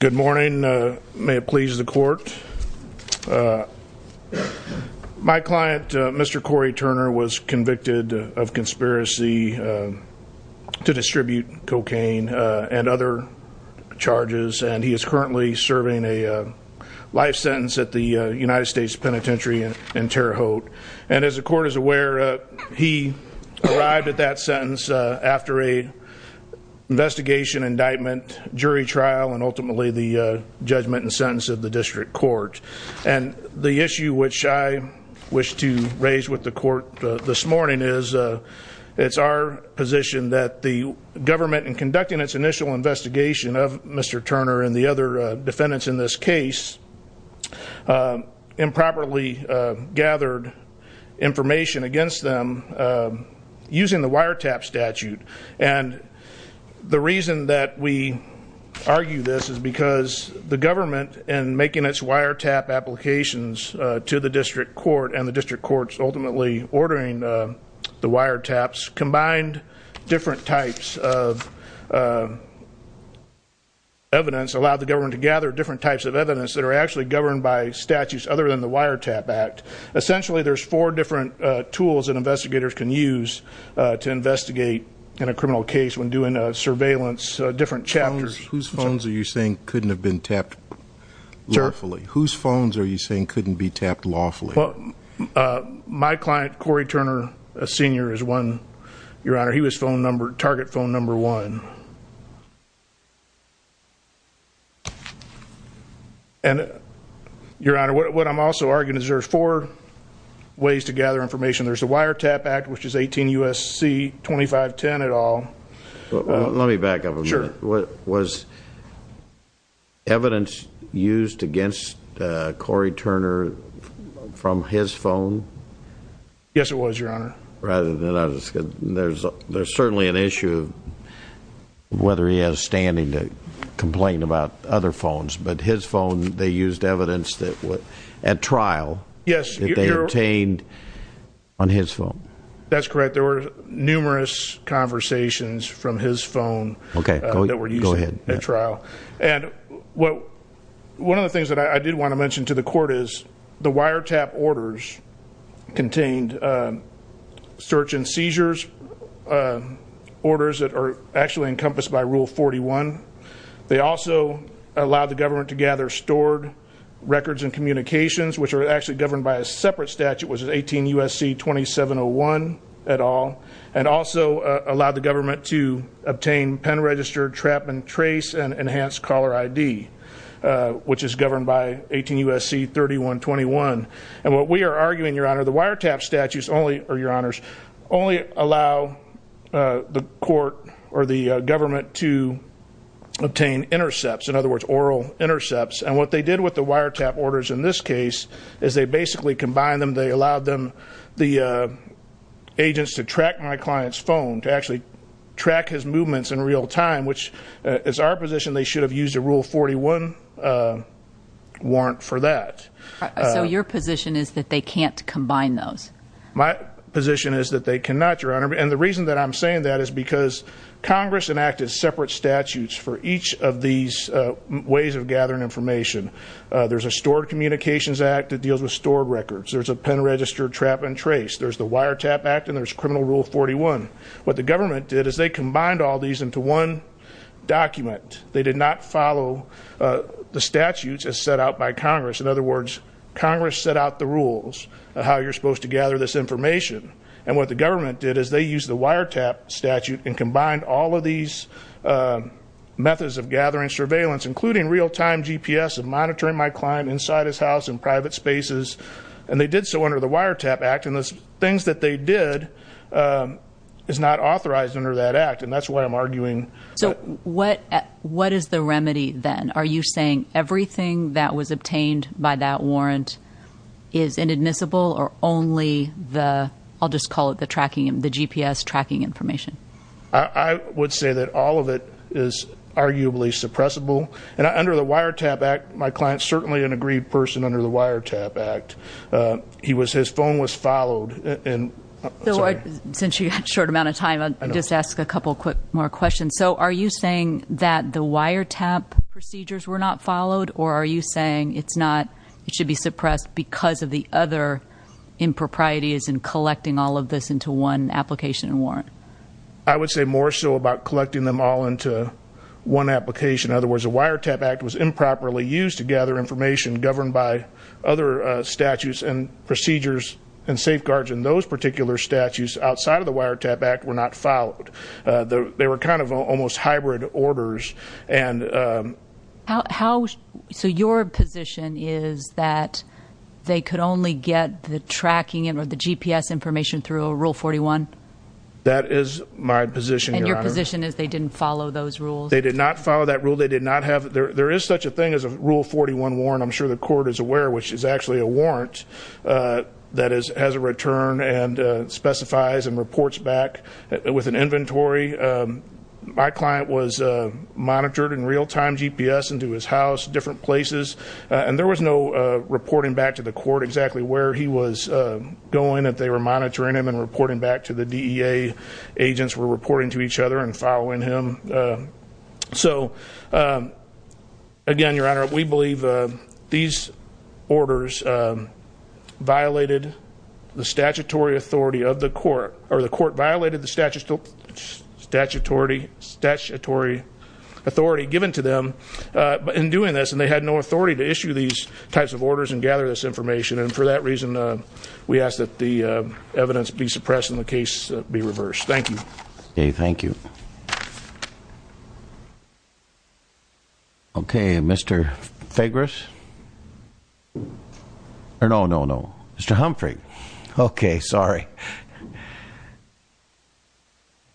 Good morning. May it please the court. My client, Mr. Cory Turner, was convicted of conspiracy to distribute cocaine and other charges, and he is currently serving a life sentence at the United States Penitentiary in Terre Haute. And as the court is aware, he arrived at that sentence after a investigation, indictment, jury trial, and ultimately the judgment and sentence of the district court. And the issue which I wish to raise with the court this morning is it's our position that the government, in conducting its initial investigation of Mr. Turner and the other defendants in this case, improperly gathered information against them using the wiretap statute. And the reason that we argue this is because the government, in making its wiretap applications to the district court and the district courts ultimately ordering the wiretaps, combined different types of evidence allowed the government to gather different types of evidence that are actually governed by statutes other than the wiretap act. Essentially, there's four different tools that investigators can use to investigate in a criminal case when doing surveillance, different chapters. Whose phones are you saying couldn't have been tapped lawfully? Whose phones are you saying couldn't be tapped lawfully? Well, my client, Cory Turner, Sr., is one, target phone number one. And, your honor, what I'm also arguing is there's four ways to gather information. There's the wiretap act, which is 18 U.S.C. 2510 et al. Let me back up a minute. Sure. Was evidence used against Cory Turner from his phone? Yes, it was, your whether he has standing to complain about other phones. But his phone, they used evidence that, at trial, that they obtained on his phone. That's correct. There were numerous conversations from his phone that were used at trial. And, one of the things that I did want to mention to the court is the wiretap orders contained search and seizures orders that are actually encompassed by Rule 41. They also allowed the government to gather stored records and communications, which are actually governed by a separate statute, which is 18 U.S.C. 2701 et al. And, also allowed the government to obtain pen register, trap and trace, and enhanced caller ID, which is governed by 18 U.S.C. 3121. And, what we are arguing, your honor, the wiretap statutes only, or your honors, only allow the court or the government to obtain intercepts. In other words, oral intercepts. And, what they did with the wiretap orders in this case is they basically combined them. They allowed them, the agents, to track my client's phone, to actually track his movements in real time, which is our position, they should have used a Rule 41 warrant for that. So, your position is that they can't combine those? My position is that they cannot, your honor. And, the reason that I'm saying that is because Congress enacted separate statutes for each of these ways of gathering information. There's a stored communications act that deals with stored records. There's a pen register, trap and trace. There's the government did is they combined all these into one document. They did not follow the statutes as set out by Congress. In other words, Congress set out the rules of how you're supposed to gather this information. And, what the government did is they used the wiretap statute and combined all of these methods of gathering surveillance, including real-time GPS of monitoring my client inside his house and private spaces. And, they did so under the not authorized under that act. And, that's what I'm arguing. So, what what is the remedy then? Are you saying everything that was obtained by that warrant is inadmissible or only the, I'll just call it the tracking, the GPS tracking information? I would say that all of it is arguably suppressible. And, under the wiretap act, my client's certainly an agreed person under the wiretap act. He was, his phone was followed. And, since you had a short amount of time, I'll just ask a couple quick more questions. So, are you saying that the wiretap procedures were not followed? Or, are you saying it's not, it should be suppressed because of the other improprieties in collecting all of this into one application and warrant? I would say more so about collecting them all into one application. In other words, the wiretap act was improperly used to gather information governed by other statutes and procedures and safeguards. And, those particular statutes outside of the wiretap act were not followed. They were kind of almost hybrid orders. And, how, so your position is that they could only get the tracking and or the GPS information through a rule 41? That is my position. And, your position is they didn't follow those rules? They did not follow that rule. They did not have, there is such a thing as a rule 41 warrant. I'm sure the court is aware, which is actually a warrant that is, has a return and specifies and reports back with an inventory. My client was monitored in real-time GPS into his house, different places. And, there was no reporting back to the court exactly where he was going, that they were monitoring him and reporting back to the DEA. Agents were reporting to each other and following him. So, again, your honor, we believe these orders violated the statutory authority of the court. Or, the court violated the statute, statutory, statutory authority given to them in doing this. And, they had no authority to issue these types of orders and gather this information. And, for that reason, we ask that the evidence be suppressed and the case be reversed. Thank you. Okay, thank you. Okay, Mr. Fagras? Or, no, no, no. Mr. Humphrey. Okay, sorry.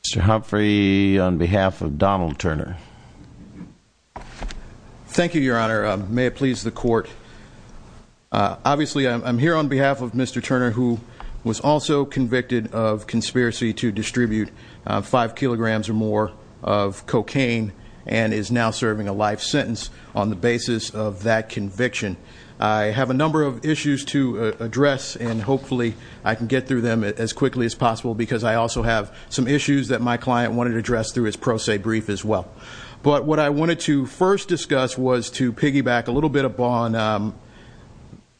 Mr. Humphrey, on behalf of Donald Turner. Thank you, your honor. May it please the court. Obviously, I'm here on behalf of Mr. Turner, who was also convicted of conspiracy to distribute five kilograms or more of cocaine and is now serving a life sentence on the basis of that conviction. I have a number of issues to address and, hopefully, I can get through them as quickly as possible because I also have some issues that my client wanted to address through his pro se brief as well. But, what I wanted to first discuss was to piggyback a little bit upon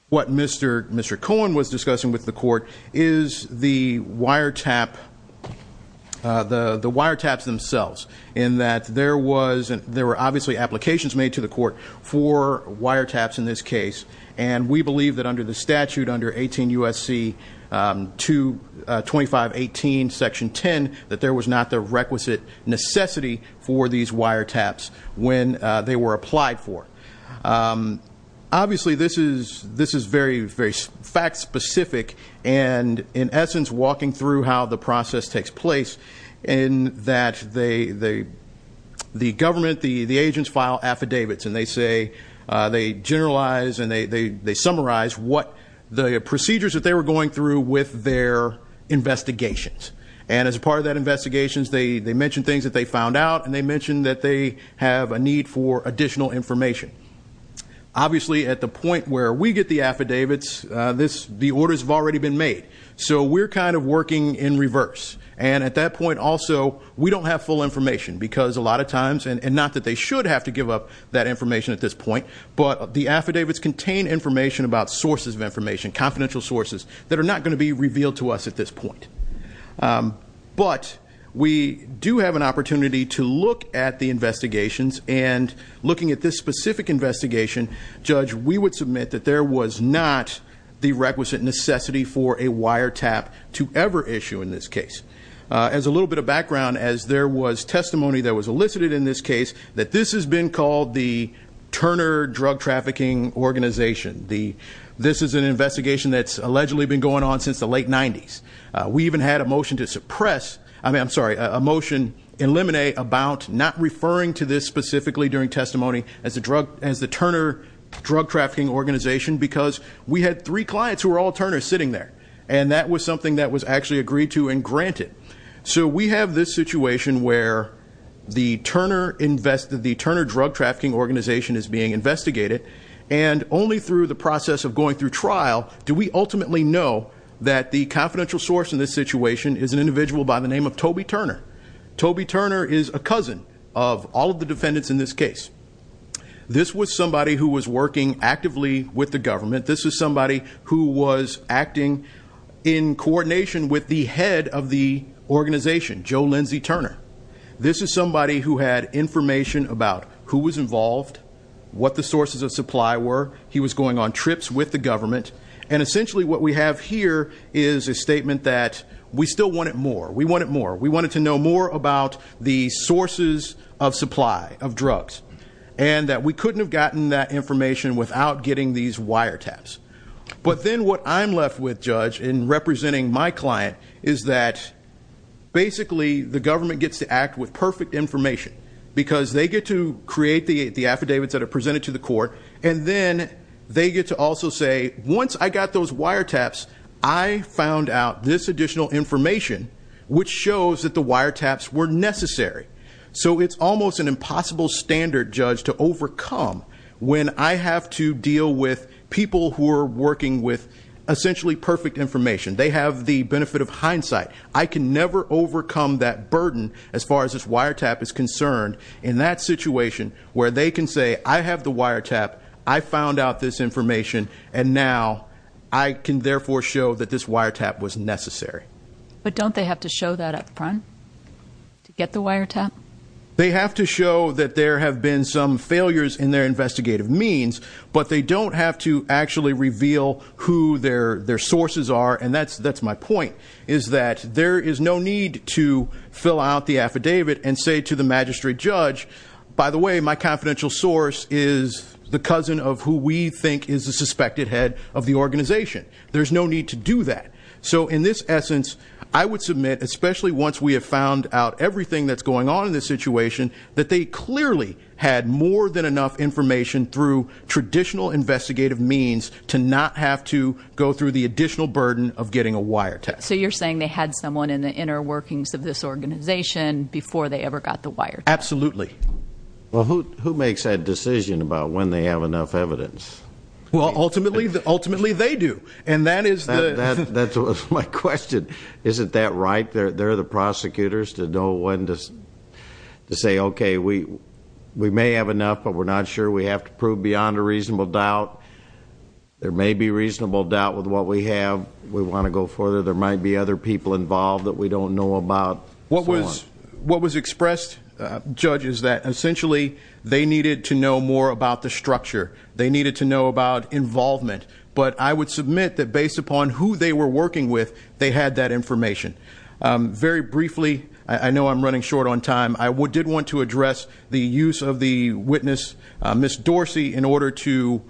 what Mr. Cohen was saying about the wiretaps themselves. In that, there were, obviously, applications made to the court for wiretaps in this case. And, we believe that under the statute, under 18 U.S.C. 2518, section 10, that there was not the requisite necessity for these wiretaps when they were applied for. Obviously, this is very, very fact-specific and, in essence, walking through how the process works in that the government, the agents, file affidavits. And, they say, they generalize and they summarize what the procedures that they were going through with their investigations. And, as part of that investigation, they mentioned things that they found out and they mentioned that they have a need for additional information. Obviously, at the point where we get the affidavits, the orders have already been made. So, we're kind of working in reverse. And, at that point, also, we don't have full information because, a lot of times, and not that they should have to give up that information at this point, but the affidavits contain information about sources of information, confidential sources, that are not going to be revealed to us at this point. But, we do have an opportunity to look at the investigations. And, looking at this specific investigation, Judge, we would submit that there was not the requisite necessity for a wiretap to ever issue in this case. As a little bit of background, as there was testimony that was elicited in this case, that this has been called the Turner Drug Trafficking Organization. This is an investigation that's allegedly been going on since the late 90s. We even had a motion to suppress, I mean, I'm sorry, a motion eliminate, about not referring to this specifically during testimony as the Turner Drug Trafficking Organization, because we had three clients who were all Turner sitting there. And, that was something that was actually agreed to and granted. So, we have this situation where the Turner Drug Trafficking Organization is being investigated. And, only through the process of going through trial, do we ultimately know that the confidential source in this situation is an individual by the name of Toby Turner. Toby Turner is a cousin of all of the defendants in this case. This was somebody who was working actively with the government. This is somebody who was acting in coordination with the head of the organization, Joe Lindsay Turner. This is somebody who had information about who was involved, what the sources of supply were. He was going on trips with the government. And, essentially, what we have here is a statement that we still want it more. We want it more. We wanted to know more about the sources of supply of drugs. And, that we couldn't have gotten that information without getting these wiretaps. But, then, what I'm left with, Judge, in representing my client, is that, basically, the government gets to act with perfect information. Because, they get to create the affidavits that are presented to the court. And then, they get to also say, once I got those wiretaps, I found out this additional information, which shows that the wiretaps were I have to deal with people who are working with, essentially, perfect information. They have the benefit of hindsight. I can never overcome that burden, as far as this wiretap is concerned. In that situation, where they can say, I have the wiretap. I found out this information. And, now, I can, therefore, show that this wiretap was necessary. But, don't they have to show that up front to get the wiretap? They have to show that there have been some failures in their investigative means. But, they don't have to actually reveal who their sources are. And, that's my point, is that there is no need to fill out the affidavit and say to the magistrate judge, by the way, my confidential source is the cousin of who we think is the suspected head of the organization. There's no need to do that. So, in this essence, I would submit, especially, once we have found out everything that's going on in this situation, that they clearly had more than enough information, through traditional investigative means, to not have to go through the additional burden of getting a wiretap. So, you're saying they had someone in the inner workings of this organization before they ever got the wiretap? Absolutely. Well, who makes that decision about when they have enough evidence? Well, ultimately, ultimately, they do. And, that is... That's my question. Isn't that right? They're the prosecutors to know when to say, okay, we may have enough, but we're not sure. We have to prove beyond a reasonable doubt. There may be reasonable doubt with what we have. We want to go further. There might be other people involved that we don't know about. What was expressed, Judge, is that, essentially, they needed to know more about the structure. They needed to know about involvement. But, I would submit that, based upon who they were working with, they had that brief... I know I'm running short on time. I did want to address the use of the witness, Ms. Dorsey, in order to,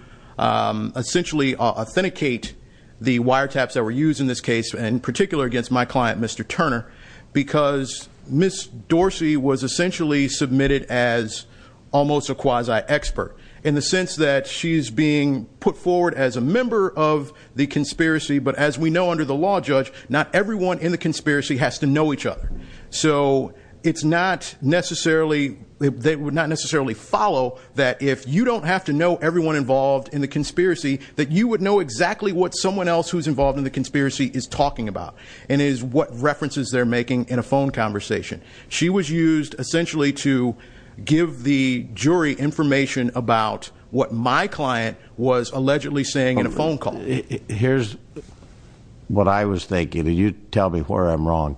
essentially, authenticate the wiretaps that were used in this case, in particular, against my client, Mr. Turner, because Ms. Dorsey was, essentially, submitted as almost a quasi-expert, in the sense that she's being put forward as a member of the conspiracy. But, as we know, under the law, Judge, not everyone in the conspiracy has to know each other. So, it's not necessarily, they would not necessarily follow that if you don't have to know everyone involved in the conspiracy, that you would know exactly what someone else who's involved in the conspiracy is talking about, and is what references they're making in a phone conversation. She was used, essentially, to give the jury information about what my client was allegedly saying in a phone call. Here's what I was thinking. You tell me where I'm wrong.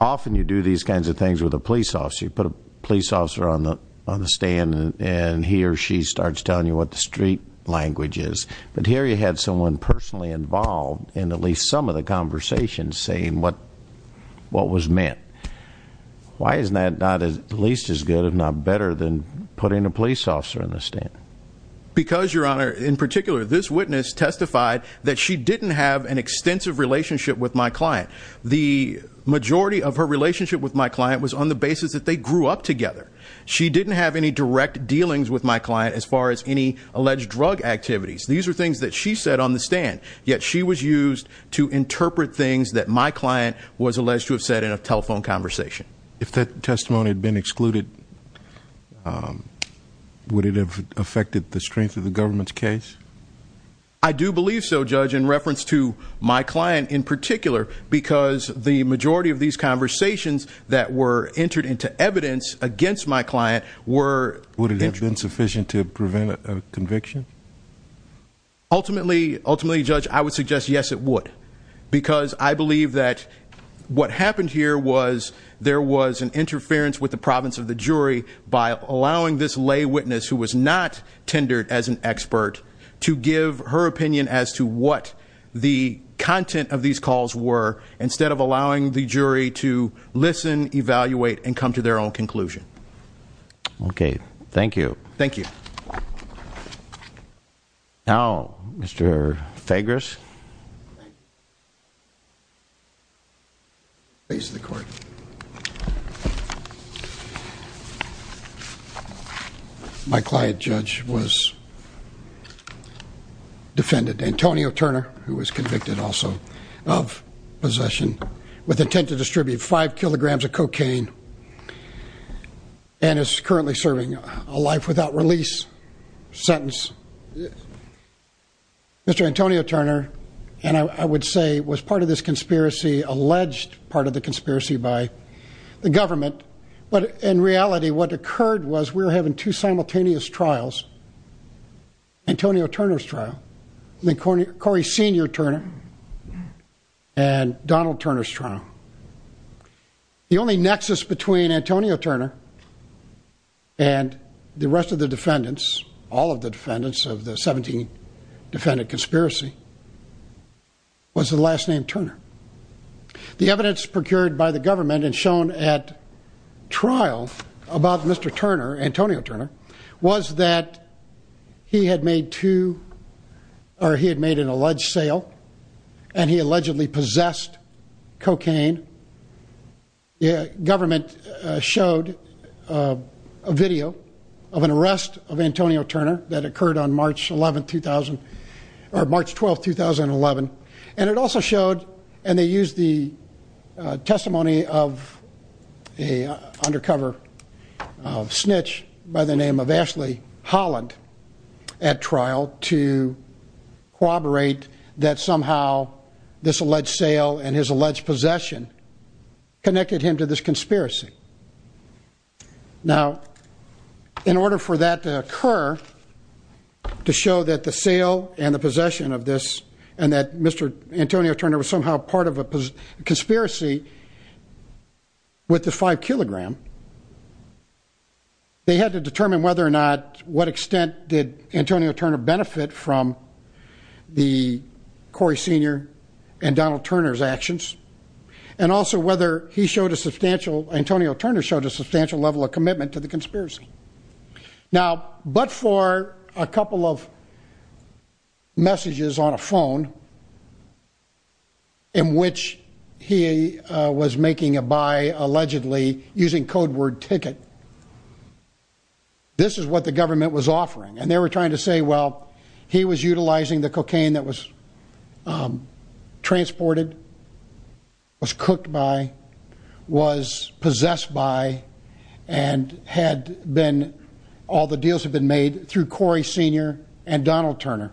Often, you do these kinds of things with a police officer. You put a police officer on the on the stand, and he or she starts telling you what the street language is. But, here, you had someone personally involved in at least some of the conversations saying what was meant. Why isn't that not at least as good, if not better, than putting a police officer in the stand? Because, Your Honor, in this case, I testified that she didn't have an extensive relationship with my client. The majority of her relationship with my client was on the basis that they grew up together. She didn't have any direct dealings with my client, as far as any alleged drug activities. These are things that she said on the stand. Yet, she was used to interpret things that my client was alleged to have said in a telephone conversation. If that testimony had been excluded, would it have affected the strength of the government's case? I do believe so, Judge, in reference to my client, in particular, because the majority of these conversations that were entered into evidence against my client were... Would it have been sufficient to prevent a conviction? Ultimately, Judge, I would suggest, yes, it would, because I believe that what happened here was there was an interference with the province of the jury by allowing this lay witness, who was not tendered as an expert, to give her opinion as to what the content of these calls were, instead of allowing the jury to listen, evaluate, and come to their own conclusion. Okay, thank you. Thank you. Now, Mr. Fagres. Please, the court. My client, Judge, was defended. Antonio Turner, who was convicted, also, of possession with intent to distribute five kilograms of cocaine, and is currently serving a life without release sentence. Mr. Antonio Turner, and I would say, was part of this conspiracy, alleged part of the conspiracy by the government, but in reality, what occurred was we were having two simultaneous trials. Antonio Turner's trial, then Corey Senior Turner, and Donald Turner's trial. The only nexus between Antonio Turner and the rest of the defendants, all of the defendants of the 17 defendant conspiracy, was the last name Turner. The evidence procured by the government and shown at trial about Mr. Turner, Antonio Turner, was that he had made two, or he had made an alleged sale, and he allegedly possessed cocaine. The government showed a video of an arrest of Antonio Turner that occurred on March 11th, 2000, or March 12th, 2011, and it also showed, and they used the testimony of a undercover snitch by the name of Ashley Holland at trial to corroborate that somehow this alleged sale and his alleged possession connected him to this and the possession of this, and that Mr. Antonio Turner was somehow part of a conspiracy with the five kilogram, they had to determine whether or not, what extent did Antonio Turner benefit from the Corey Senior and Donald Turner's actions, and also whether he showed a substantial, Antonio Turner showed a messages on a phone in which he was making a buy, allegedly using code word ticket. This is what the government was offering, and they were trying to say well, he was utilizing the cocaine that was transported, was cooked by, was possessed by, and had been, all the deals have been made through Corey Senior and Donald Turner,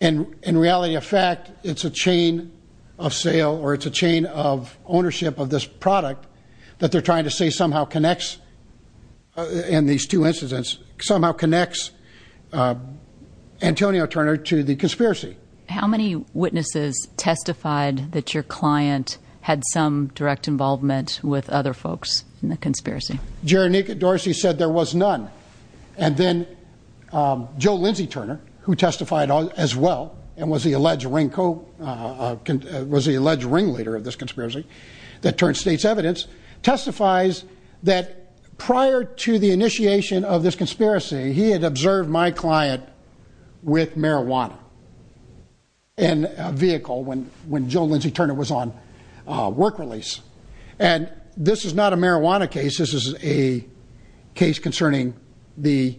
and in reality of fact, it's a chain of sale, or it's a chain of ownership of this product that they're trying to say somehow connects, in these two incidents, somehow connects Antonio Turner to the conspiracy. How many witnesses testified that your client had some direct involvement with other folks in the conspiracy? Jeronica Dorsey said there was none, and then Joe Lindsay Turner, who testified as well, and was the alleged ring co, was the alleged ring leader of this conspiracy, that turned state's evidence, testifies that prior to the initiation of this conspiracy, he had observed my client with marijuana in a case. This is a case concerning the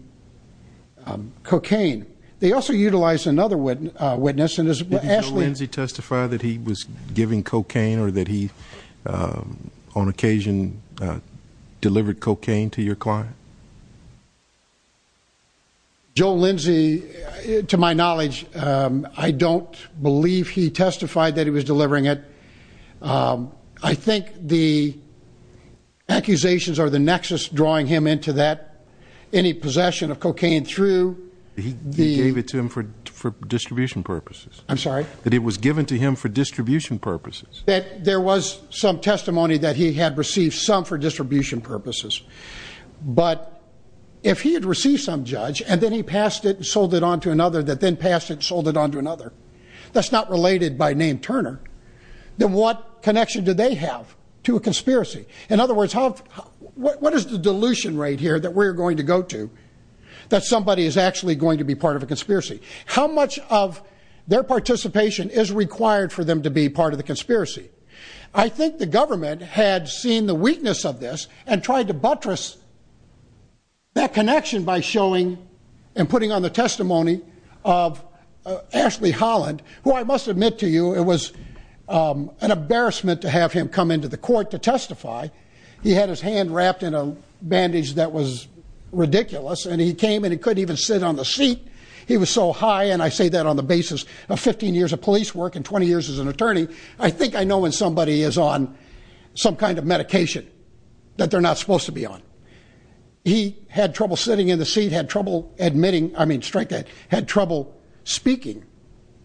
cocaine. They also utilized another witness, and as Ashley... Did Joe Lindsay testify that he was giving cocaine, or that he, on occasion, delivered cocaine to your client? Joe Lindsay, to my knowledge, I don't believe he testified that he was delivering it. I think the accusations are the nexus drawing him into that. Any possession of cocaine through... He gave it to him for distribution purposes. I'm sorry? That it was given to him for distribution purposes. That there was some testimony that he had received some for distribution purposes, but if he had received some, Judge, and then he passed it and sold it on to another, that's not related by name Turner, then what connection do they have to a conspiracy? In other words, how... What is the dilution rate here that we're going to go to, that somebody is actually going to be part of a conspiracy? How much of their participation is required for them to be part of the conspiracy? I think the government had seen the weakness of this, and tried to buttress that connection by showing and putting on the testimony of Ashley Holland, who I must admit to you, it was an embarrassment to have him come into the court to testify. He had his hand wrapped in a bandage that was ridiculous, and he came and he couldn't even sit on the seat. He was so high, and I say that on the basis of 15 years of police work and 20 years as an attorney, I think I know when somebody is on some kind of medication that they're not supposed to be on. He had trouble sitting in the seat, had trouble admitting, I mean straight, had trouble speaking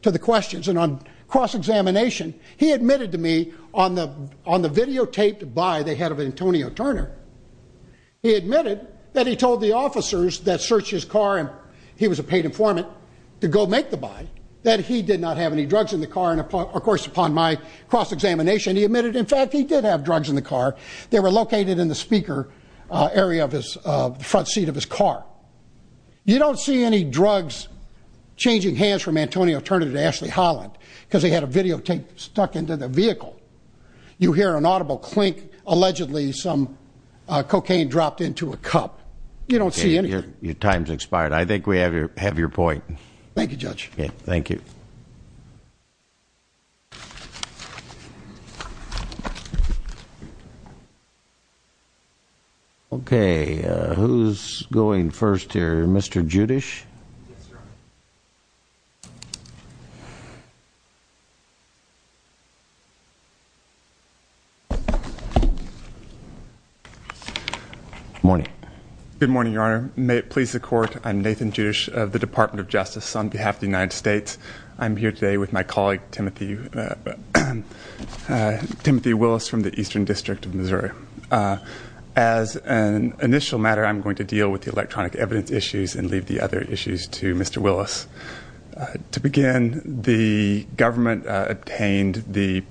to the questions, and on cross-examination, he admitted to me on the videotaped by the head of Antonio Turner, he admitted that he told the officers that searched his car, and he was a paid informant, to go make the buy, that he did not have any drugs in the car, and of course upon my cross-examination, he admitted in fact he did have drugs in the car. They were located in the speaker area of his front seat of his car. You don't see any drugs changing hands from Antonio Turner to Ashley Holland, because they had a videotape stuck into the vehicle. You hear an audible clink, allegedly some cocaine dropped into a cup. You don't see anything. Your time's expired. I think we have your point. Thank you, Judge. Thank you. Okay, who's going first here? Mr. Judish? Morning. Good morning, Your Honor. May it please the Court, I'm Nathan Judish of the Department of Justice on behalf of the United States. I'm here today with my as an initial matter, I'm going to deal with the electronic evidence issues and leave the other issues to Mr. Willis. To begin, the government obtained the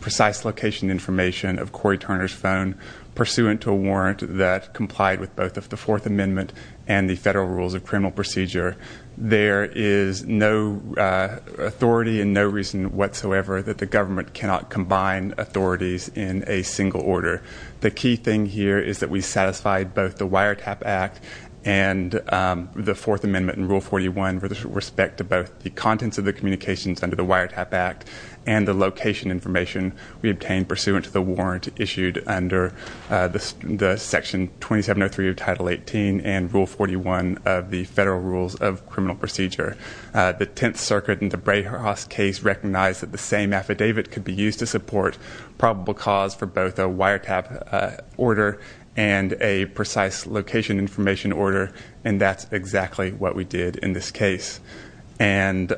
precise location information of Corey Turner's phone pursuant to a warrant that complied with both of the Fourth Amendment and the federal rules of criminal procedure. There is no authority and no reason whatsoever that the thing here is that we satisfied both the Wiretap Act and the Fourth Amendment and Rule 41 with respect to both the contents of the communications under the Wiretap Act and the location information we obtained pursuant to the warrant issued under the Section 2703 of Title 18 and Rule 41 of the federal rules of criminal procedure. The Tenth Circuit in the Bray-Harris case recognized that the same affidavit could be used to support probable cause for both a wiretap order and a precise location information order and that's exactly what we did in this case. And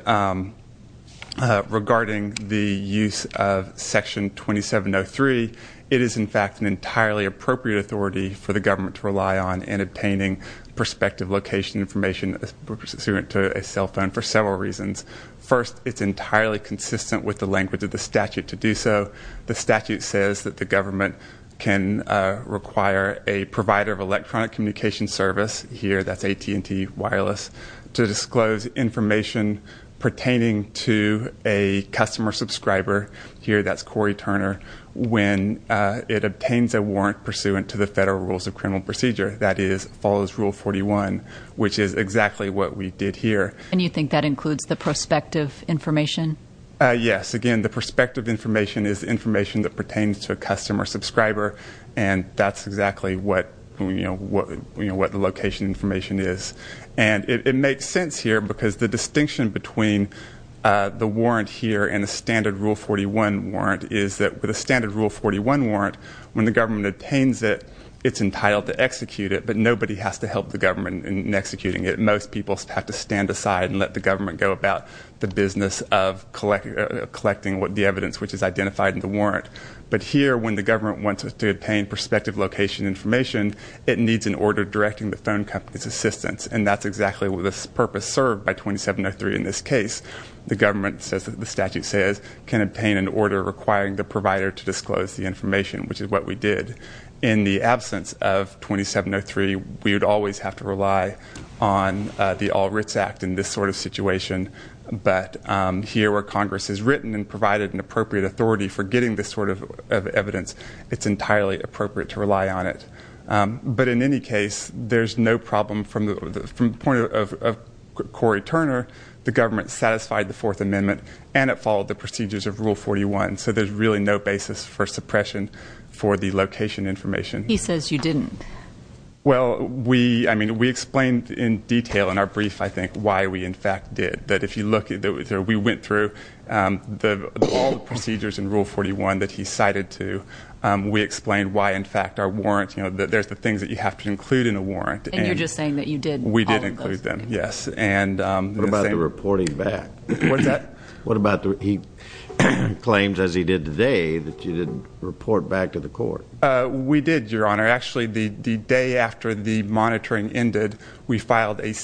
regarding the use of Section 2703, it is in fact an entirely appropriate authority for the government to rely on in obtaining prospective location information pursuant to a cell phone for several reasons. First, it's entirely consistent with the language of the statute to do so. The statute says that the government can require a provider of electronic communication service, here that's AT&T Wireless, to disclose information pertaining to a customer subscriber, here that's Corey Turner, when it obtains a warrant pursuant to the federal rules of criminal procedure, that is follows Rule 41, which is exactly what we did here. And you think that includes the prospective information? Yes, again the prospective information is information that pertains to a customer subscriber and that's exactly what the location information is. And it makes sense here because the distinction between the warrant here and a standard Rule 41 warrant is that with a standard Rule 41 warrant, when the government obtains it, it's entitled to execute it but nobody has to help the government in executing it. Most people have to stand aside and let the government go about the business of collecting the evidence which is identified in the warrant. But here when the government wants to obtain prospective location information, it needs an order directing the phone company's assistance and that's exactly what this purpose served by 2703 in this case. The government says that the statute says can obtain an order requiring the provider to disclose the information, which is what we did. In the absence of 2703, we would always have to rely on the All Writs Act in this sort of situation. But here where Congress has written and provided an appropriate authority for getting this sort of evidence, it's entirely appropriate to rely on it. But in any case, there's no problem from the point of Corey Turner. The government satisfied the Fourth Amendment and it followed the procedures of Rule 41. So there's really no basis for suppression for the location information. He says you didn't. Well we, I mean, we explained in detail in our fact did that if you look at that we went through the all the procedures in Rule 41 that he cited to, we explained why in fact our warrants, you know, that there's the things that you have to include in a warrant. And you're just saying that you did. We did include them, yes. And what about the reporting back? What's that? What about the, he claims as he did today that you didn't report back to the court. We did, Your Honor. Actually the day after the monitoring ended, we said that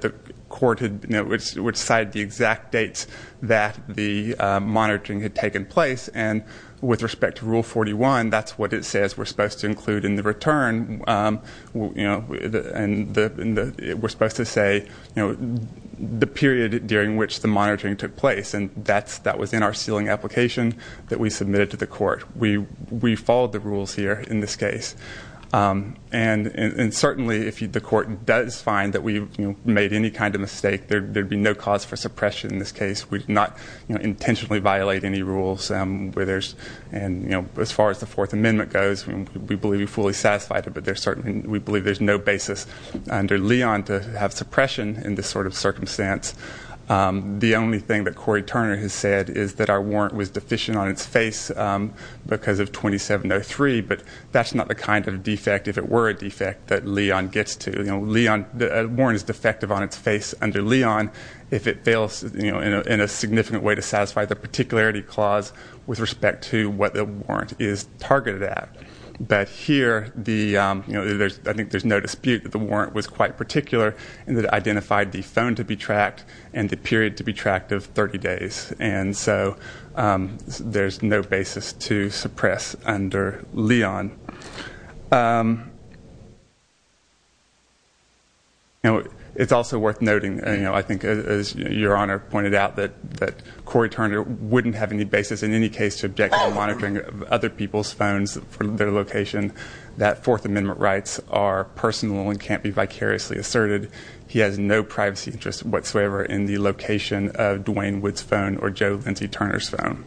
the court had, you know, which cited the exact dates that the monitoring had taken place. And with respect to Rule 41, that's what it says we're supposed to include in the return. You know, and we're supposed to say, you know, the period during which the monitoring took place. And that's, that was in our sealing application that we submitted to the court. We followed the that we made any kind of mistake. There'd be no cause for suppression in this case. We did not, you know, intentionally violate any rules where there's, and you know, as far as the Fourth Amendment goes, we believe we fully satisfied it. But there's certainly, we believe there's no basis under Leon to have suppression in this sort of circumstance. The only thing that Cory Turner has said is that our warrant was deficient on its face because of 2703. But that's not the kind of defect, if it were a defect, that Leon gets to. You know, the warrant is defective on its face under Leon if it fails, you know, in a significant way to satisfy the particularity clause with respect to what the warrant is targeted at. But here, the, you know, there's, I think there's no dispute that the warrant was quite particular and that identified the phone to be tracked and the period to be tracked of 30 days. And so there's no basis to suppress under Leon. You know, it's also worth noting, you know, I think as your Honor pointed out, that that Cory Turner wouldn't have any basis in any case to object to monitoring of other people's phones from their location, that Fourth Amendment rights are personal and can't be vicariously asserted. He has no privacy interest whatsoever in the location of Duane Wood's phone or Joe Lindsay Turner's phone.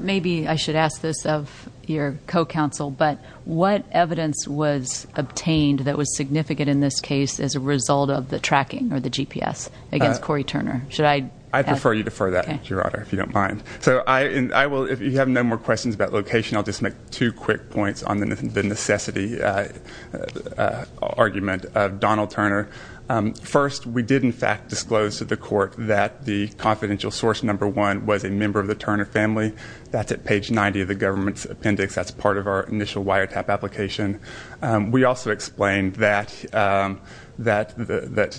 Maybe I should ask this of your co-counsel, but what evidence was obtained that was significant in this case as a result of the tracking or the GPS against Cory Turner? Should I? I prefer you to defer that, Your Honor, if you don't mind. So I will, if you have no more questions about location, I'll just make two quick points on the necessity argument of Donald Turner. First, we did in fact disclose to the court that the confidential source number one was a member of the Turner family. That's at page 90 of the government's appendix. That's part of our initial wiretap application. We also explained that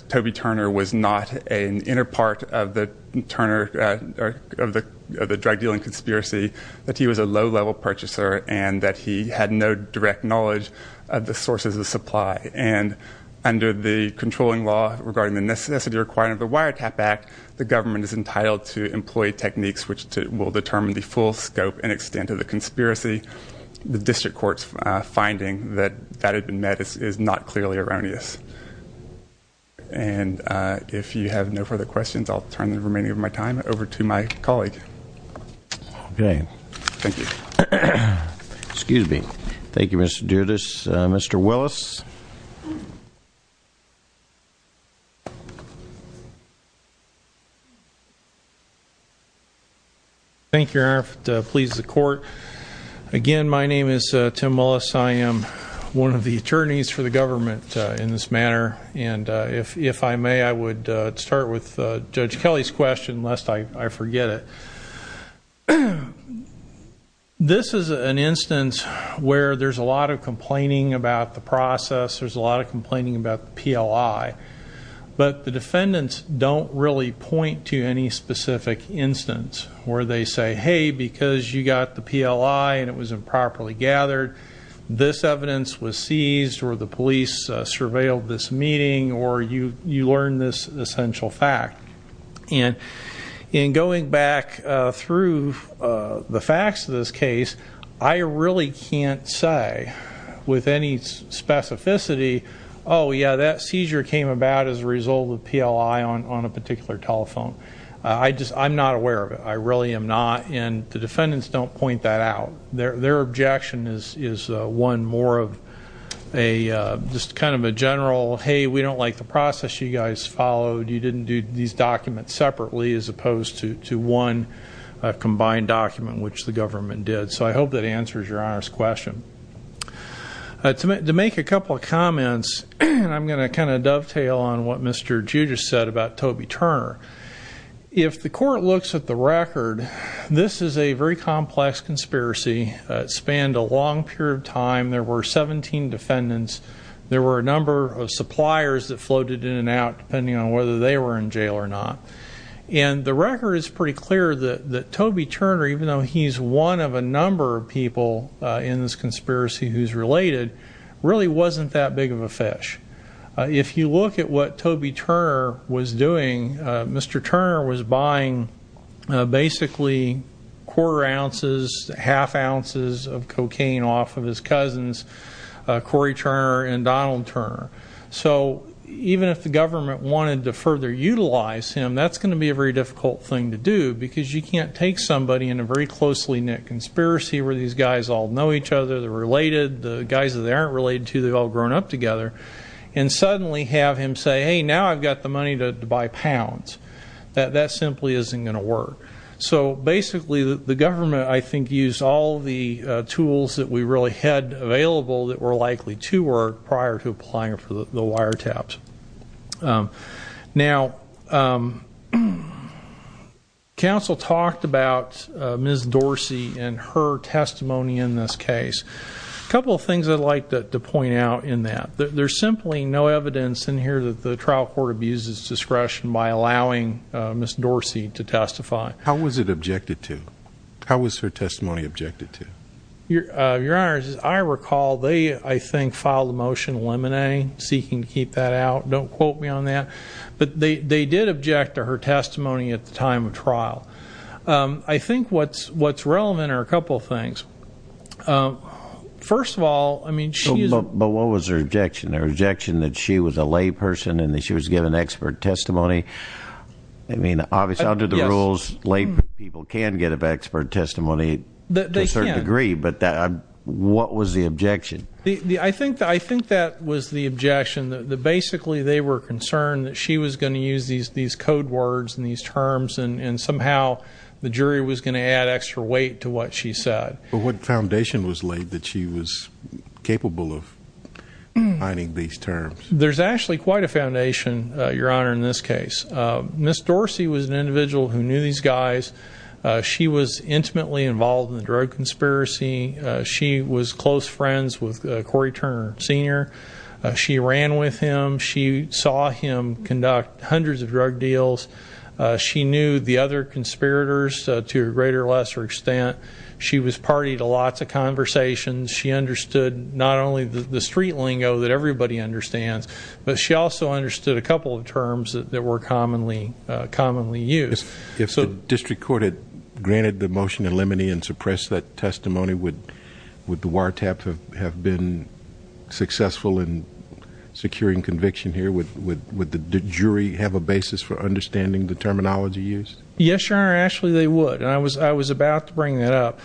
Toby Turner was not an inner part of the Turner, of the drug dealing conspiracy, that he was a low-level purchaser and that he had no direct knowledge of the sources of supply. And under the controlling law regarding the necessity requirement of the Wiretap Act, the government is entitled to employ techniques which will determine the full scope and extent of the conspiracy. The district court's finding that that had been met is not clearly erroneous. And if you have no further questions, I'll turn the remaining of my time over to my colleague. Okay. Thank you. Excuse me. Thank you, Mr. Dudas. Mr. Willis. Thank you, Your Honor. Please the court. Again, my name is Tim Willis. I am one of the attorneys for the government in this manner. And if I may, I would start with this is an instance where there's a lot of complaining about the process. There's a lot of complaining about the PLI. But the defendants don't really point to any specific instance where they say, hey, because you got the PLI and it was improperly gathered, this evidence was seized or the police surveilled this meeting or you learned this essential fact. And in going back through the facts of this case, I really can't say with any specificity, oh, yeah, that seizure came about as a result of PLI on a particular telephone. I'm not aware of it. I really am not. And the defendants don't point that out. Their objection is one more of a just kind of a general, hey, we don't like the process you guys followed. You didn't do these documents separately as opposed to one combined document, which the government did. So I hope that answers Your Honor's question. To make a couple of comments, I'm going to kind of dovetail on what Mr. Judge has said about Toby Turner. If the court looks at the record, this is a very complex conspiracy. It spanned a long period of time. There were 17 defendants. There were a number of suppliers that floated in and out, depending on whether they were in jail or not. And the record is pretty clear that Toby Turner, even though he's one of a number of people in this conspiracy who's related, really wasn't that big of a fish. If you look at what Toby Turner was doing, Mr. Turner was buying basically quarter ounces, half ounces of cocaine off of his cousins, Cory Turner and Donald Turner. So even if the government wanted to further utilize him, that's going to be a very difficult thing to do, because you can't take somebody in a very closely knit conspiracy where these guys all know each other, they're related, the guys that they aren't related to, they've all grown up together, and suddenly have him say, hey, now I've got the money to buy pounds. That simply isn't going to work. So basically, the government, I think, used all the tools that we really had available that were likely to work prior to applying for the wiretaps. Now, counsel talked about Ms. Dorsey and her testimony in this case. A couple of things I'd like to point out in that. There's simply no evidence in here that the trial court abuses discretion by allowing Ms. Dorsey to testify. How was her testimony objected to? Your Honor, as I recall, they, I think, filed a motion eliminating, seeking to keep that out. Don't quote me on that. But they did object to her testimony at the time of trial. I think what's relevant are a couple of things. First of all, I mean, she is... But what was her objection? Her objection that she was a layperson and that she was given expert testimony? I mean, obviously under the rules, laypeople can get an expert testimony to a certain degree. But that, what was the objection? I think that, I think that was the objection, that basically they were concerned that she was going to use these these code words and these terms and somehow the jury was going to add extra weight to what she said. But what foundation was laid that she was capable of finding these terms? There's actually quite a foundation, Your Honor, in this case. Ms. Dorsey was an individual who knew these guys. She was intimately involved in the drug conspiracy. She was close friends with Corey Turner Sr. She ran with him. She saw him conduct hundreds of drug deals. She knew the other conspirators to a greater or lesser extent. She was party to lots of conversations. She understood not only the street lingo that everybody understands, but she also understood a couple of terms that were commonly used. If the district court had granted the motion to limit and suppress that testimony, would the wiretaps have been successful in securing conviction here? Would the jury have a basis for understanding the terminology used? Yes, Your Honor, actually they would. And I was about to bring that up.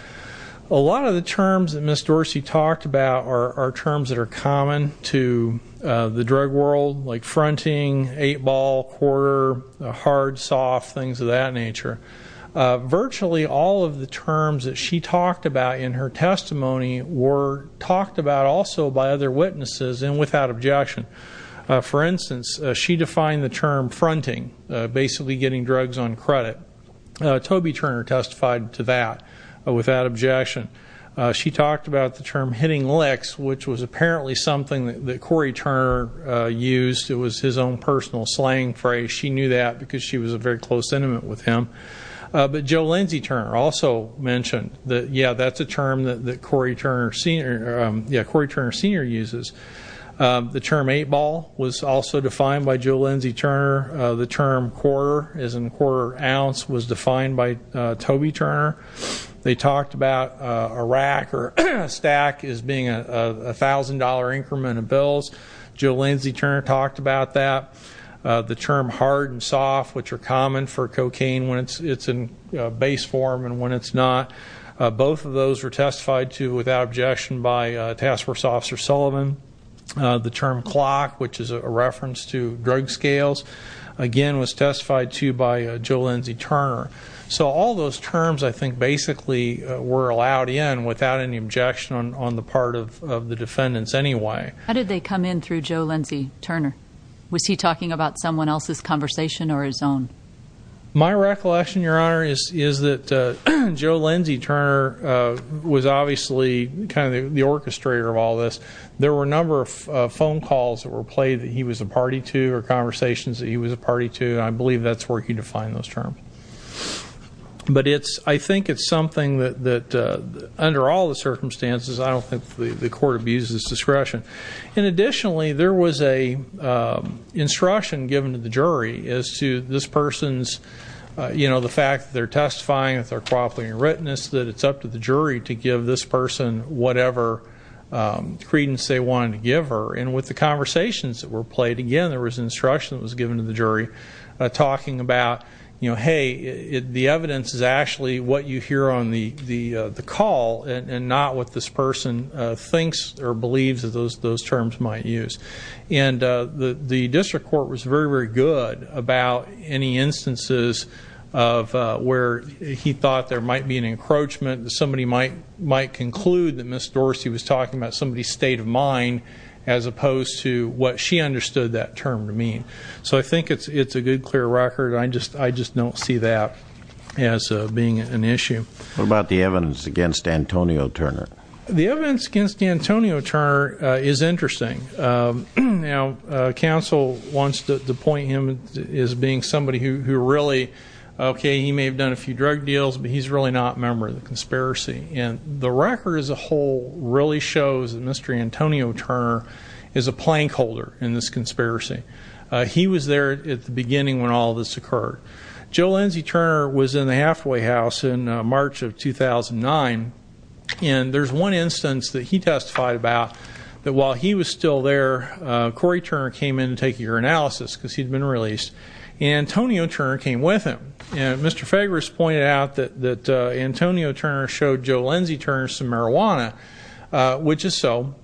A lot of the terms that Ms. Dorsey talked about are terms that are common to the drug world, like fronting, eight-ball, quarter, hard, soft, things of that nature. Virtually all of the terms that she talked about in her testimony were talked about also by other witnesses and without objection. For instance, she defined the term fronting, basically getting drugs on credit. Toby Turner testified to that without objection. She talked about the term hitting licks, which was apparently something that Cory Turner used. It was his own personal slang phrase. She knew that because she was a very close intimate with him. But Joe Lindsay Turner also mentioned that, yeah, that's a term that Cory Turner Sr. uses. The term eight-ball was also defined by Joe Lindsay Turner. The term quarter, as in quarter ounce, was defined by Toby Turner. They talked about a rack or stack as being a $1,000 increment of bills. Joe Lindsay Turner talked about that. The term hard and soft, which are common for cocaine when it's in base form and when it's not. Both of those were testified to without objection by Task Force Officer Sullivan. The term clock, which is a reference to drug scales, again was testified to by Joe Lindsay Turner. So all those terms, I think, basically were allowed in without any objection on the part of the defendants anyway. How did they come in through Joe Lindsay Turner? Was he talking about someone else's conversation or his own? My recollection, Your Honor, is that Joe Lindsay Turner was obviously kind of the orchestrator of all this. There were a number of phone calls that were played that he was a party to or conversations that he was a party to. I believe that's where he defined those terms. But it's, I think it's something that, under all the circumstances, I don't think the court abuses discretion. And additionally, there was a instruction given to the jury as to this person's, you know, the fact that they're testifying, that they're cooperating in writtenness, that it's up to the jury to give this person whatever credence they wanted to give her. And with the conversations that were played, again, there was instruction that was given to the jury talking about, you know, hey, the evidence is actually what you hear on the call and not what this person thinks or believes that those terms might use. And the district court was very, very good about any instances of where he thought there might be an encroachment, that somebody might conclude that Ms. Dorsey was talking about somebody's state of mind, as opposed to what she understood that term to mean. So I think it's a good, clear record. I just don't see that as being an issue. What about the evidence against Antonio Turner? The evidence against Antonio Turner is interesting. Now, counsel wants to point him as being somebody who really, okay, he may have done a few drug deals, but he's really not a member of the conspiracy. And the record as a whole really shows that Mr. Antonio Turner is a plank holder in this conspiracy. He was there at the beginning when all this occurred. Joe Lindsey Turner was in the halfway house in March of 2009, and there's one instance that he testified about that while he was still there, Corey Turner came in to take your analysis, because he'd been released, and Antonio Turner came with him. And Mr. Fageras pointed out that Antonio Turner showed Joe Lindsey Turner some marijuana, which is so.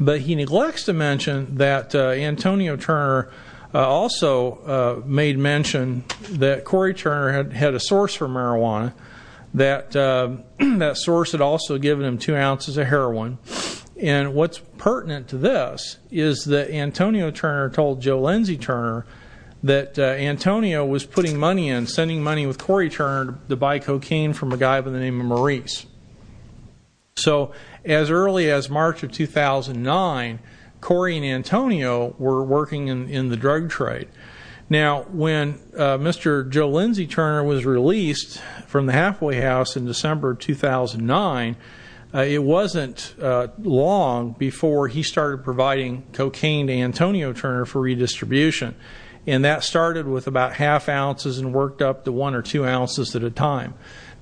But he neglects to mention that Antonio Turner also made mention that Corey Turner had a source for marijuana. That source had also given him two ounces of heroin. And what's pertinent to this is that Antonio Turner told Joe Lindsey Turner that Antonio was putting money in, sending money with Corey Turner to buy cocaine from a guy by the name of Maurice. So as early as March of 2009, Corey and Antonio were working in the drug trade. Now, when Mr. Joe Lindsey Turner was released from the halfway house in December 2009, it wasn't long before he started providing cocaine to Antonio Turner for one or two ounces at a time.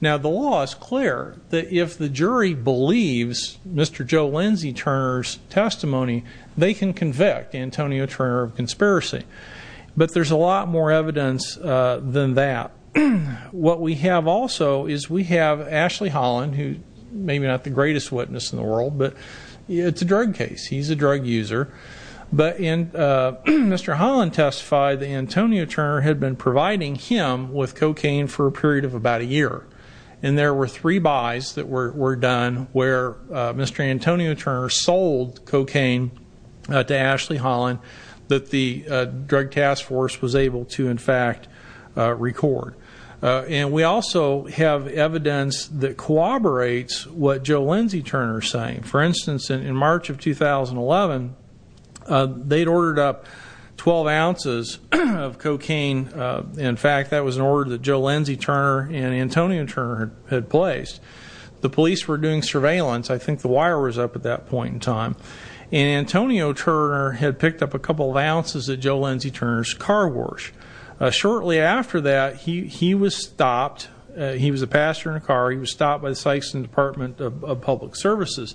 Now, the law is clear that if the jury believes Mr. Joe Lindsey Turner's testimony, they can convict Antonio Turner of conspiracy. But there's a lot more evidence than that. What we have also is we have Ashley Holland, who maybe not the greatest witness in the world, but it's a drug case. He's a drug user. But Mr. Holland testified that Antonio Turner had been providing him with cocaine for a period of about a year. And there were three buys that were done where Mr. Antonio Turner sold cocaine to Ashley Holland that the Drug Task Force was able to, in fact, record. And we also have evidence that corroborates what Joe Lindsey Turner is saying. For instance, in fact, that was an order that Joe Lindsey Turner and Antonio Turner had placed. The police were doing surveillance. I think the wire was up at that point in time. And Antonio Turner had picked up a couple of ounces at Joe Lindsey Turner's car wash. Shortly after that, he was stopped. He was a passenger in a car. He was stopped by the Sykeson Department of Public Services.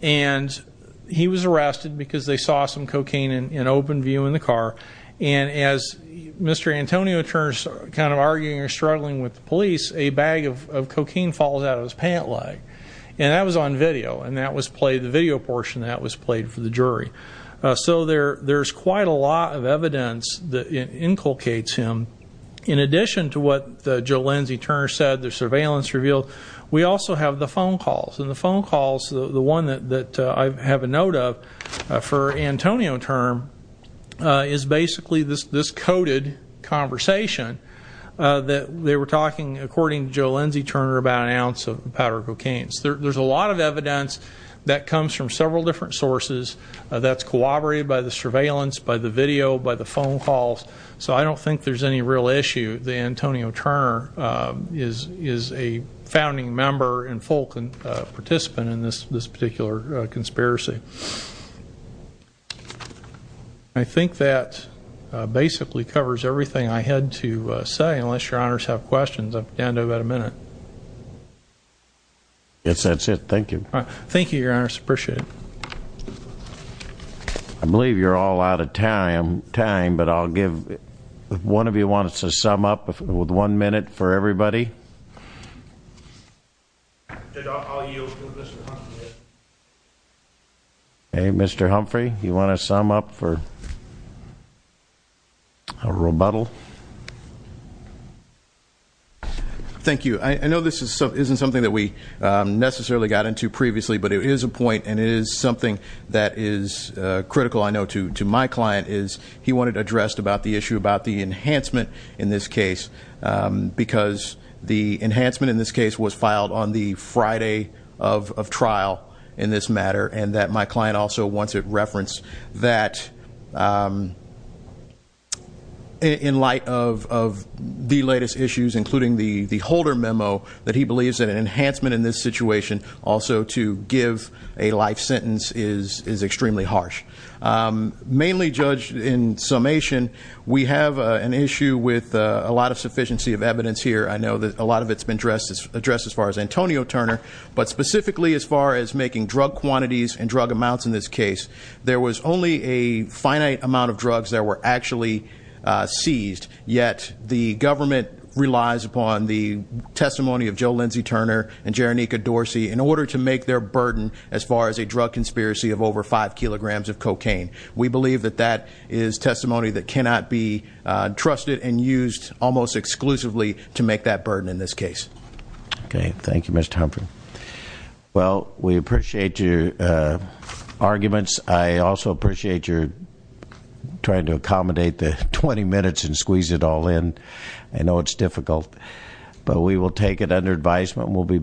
And he was arrested because they saw some cocaine in open view in the car. And as Mr. Antonio Turner's kind of arguing or struggling with the police, a bag of cocaine falls out of his pant leg. And that was on video. And that was played, the video portion, that was played for the jury. So there's quite a lot of evidence that inculcates him. In addition to what Joe Lindsey Turner said, the surveillance revealed, we also have the phone calls. And the phone calls, the one that I have a note of for Antonio Turner, is basically this coded conversation that they were talking, according to Joe Lindsey Turner, about an ounce of powder cocaine. So there's a lot of evidence that comes from several different sources that's corroborated by the surveillance, by the video, by the phone calls. So I don't think there's any real issue that Antonio Turner is a founding member and full participant in this particular conspiracy. I think that basically covers everything I had to say, unless Your Honors have questions. I'm down to about a minute. Yes, that's it. Thank you. Thank you, Your Honors. Appreciate it. I believe you're all out of time, but I'll give, if one of you wants to sum up, with one minute for everybody. Hey, Mr. Humphrey, you want to sum up for a rebuttal? Thank you. I know this isn't something that we necessarily got into previously, but it is a point and it is something that is critical, I know, to my client, is he wanted addressed about the enhancement in this case, because the enhancement in this case was filed on the Friday of trial in this matter, and that my client also wants it referenced that in light of the latest issues, including the the Holder memo, that he believes that an enhancement in this situation also to give a life sentence is extremely harsh. Mainly, Judge, in summation, we have an issue with a lot of sufficiency of evidence here. I know that a lot of it's been addressed as far as Antonio Turner, but specifically as far as making drug quantities and drug amounts in this case, there was only a finite amount of drugs that were actually seized, yet the government relies upon the testimony of Joe Lindsay Turner and Jeronica Dorsey in order to make their burden as far as a drug conspiracy of over five kilograms of cocaine. We believe that that is testimony that cannot be trusted and used almost exclusively to make that burden in this case. Okay, thank you, Mr. Humphrey. Well, we appreciate your arguments. I also appreciate your trying to accommodate the 20 minutes and squeeze it all in. I know it's difficult, but we will take it under advisement. We'll be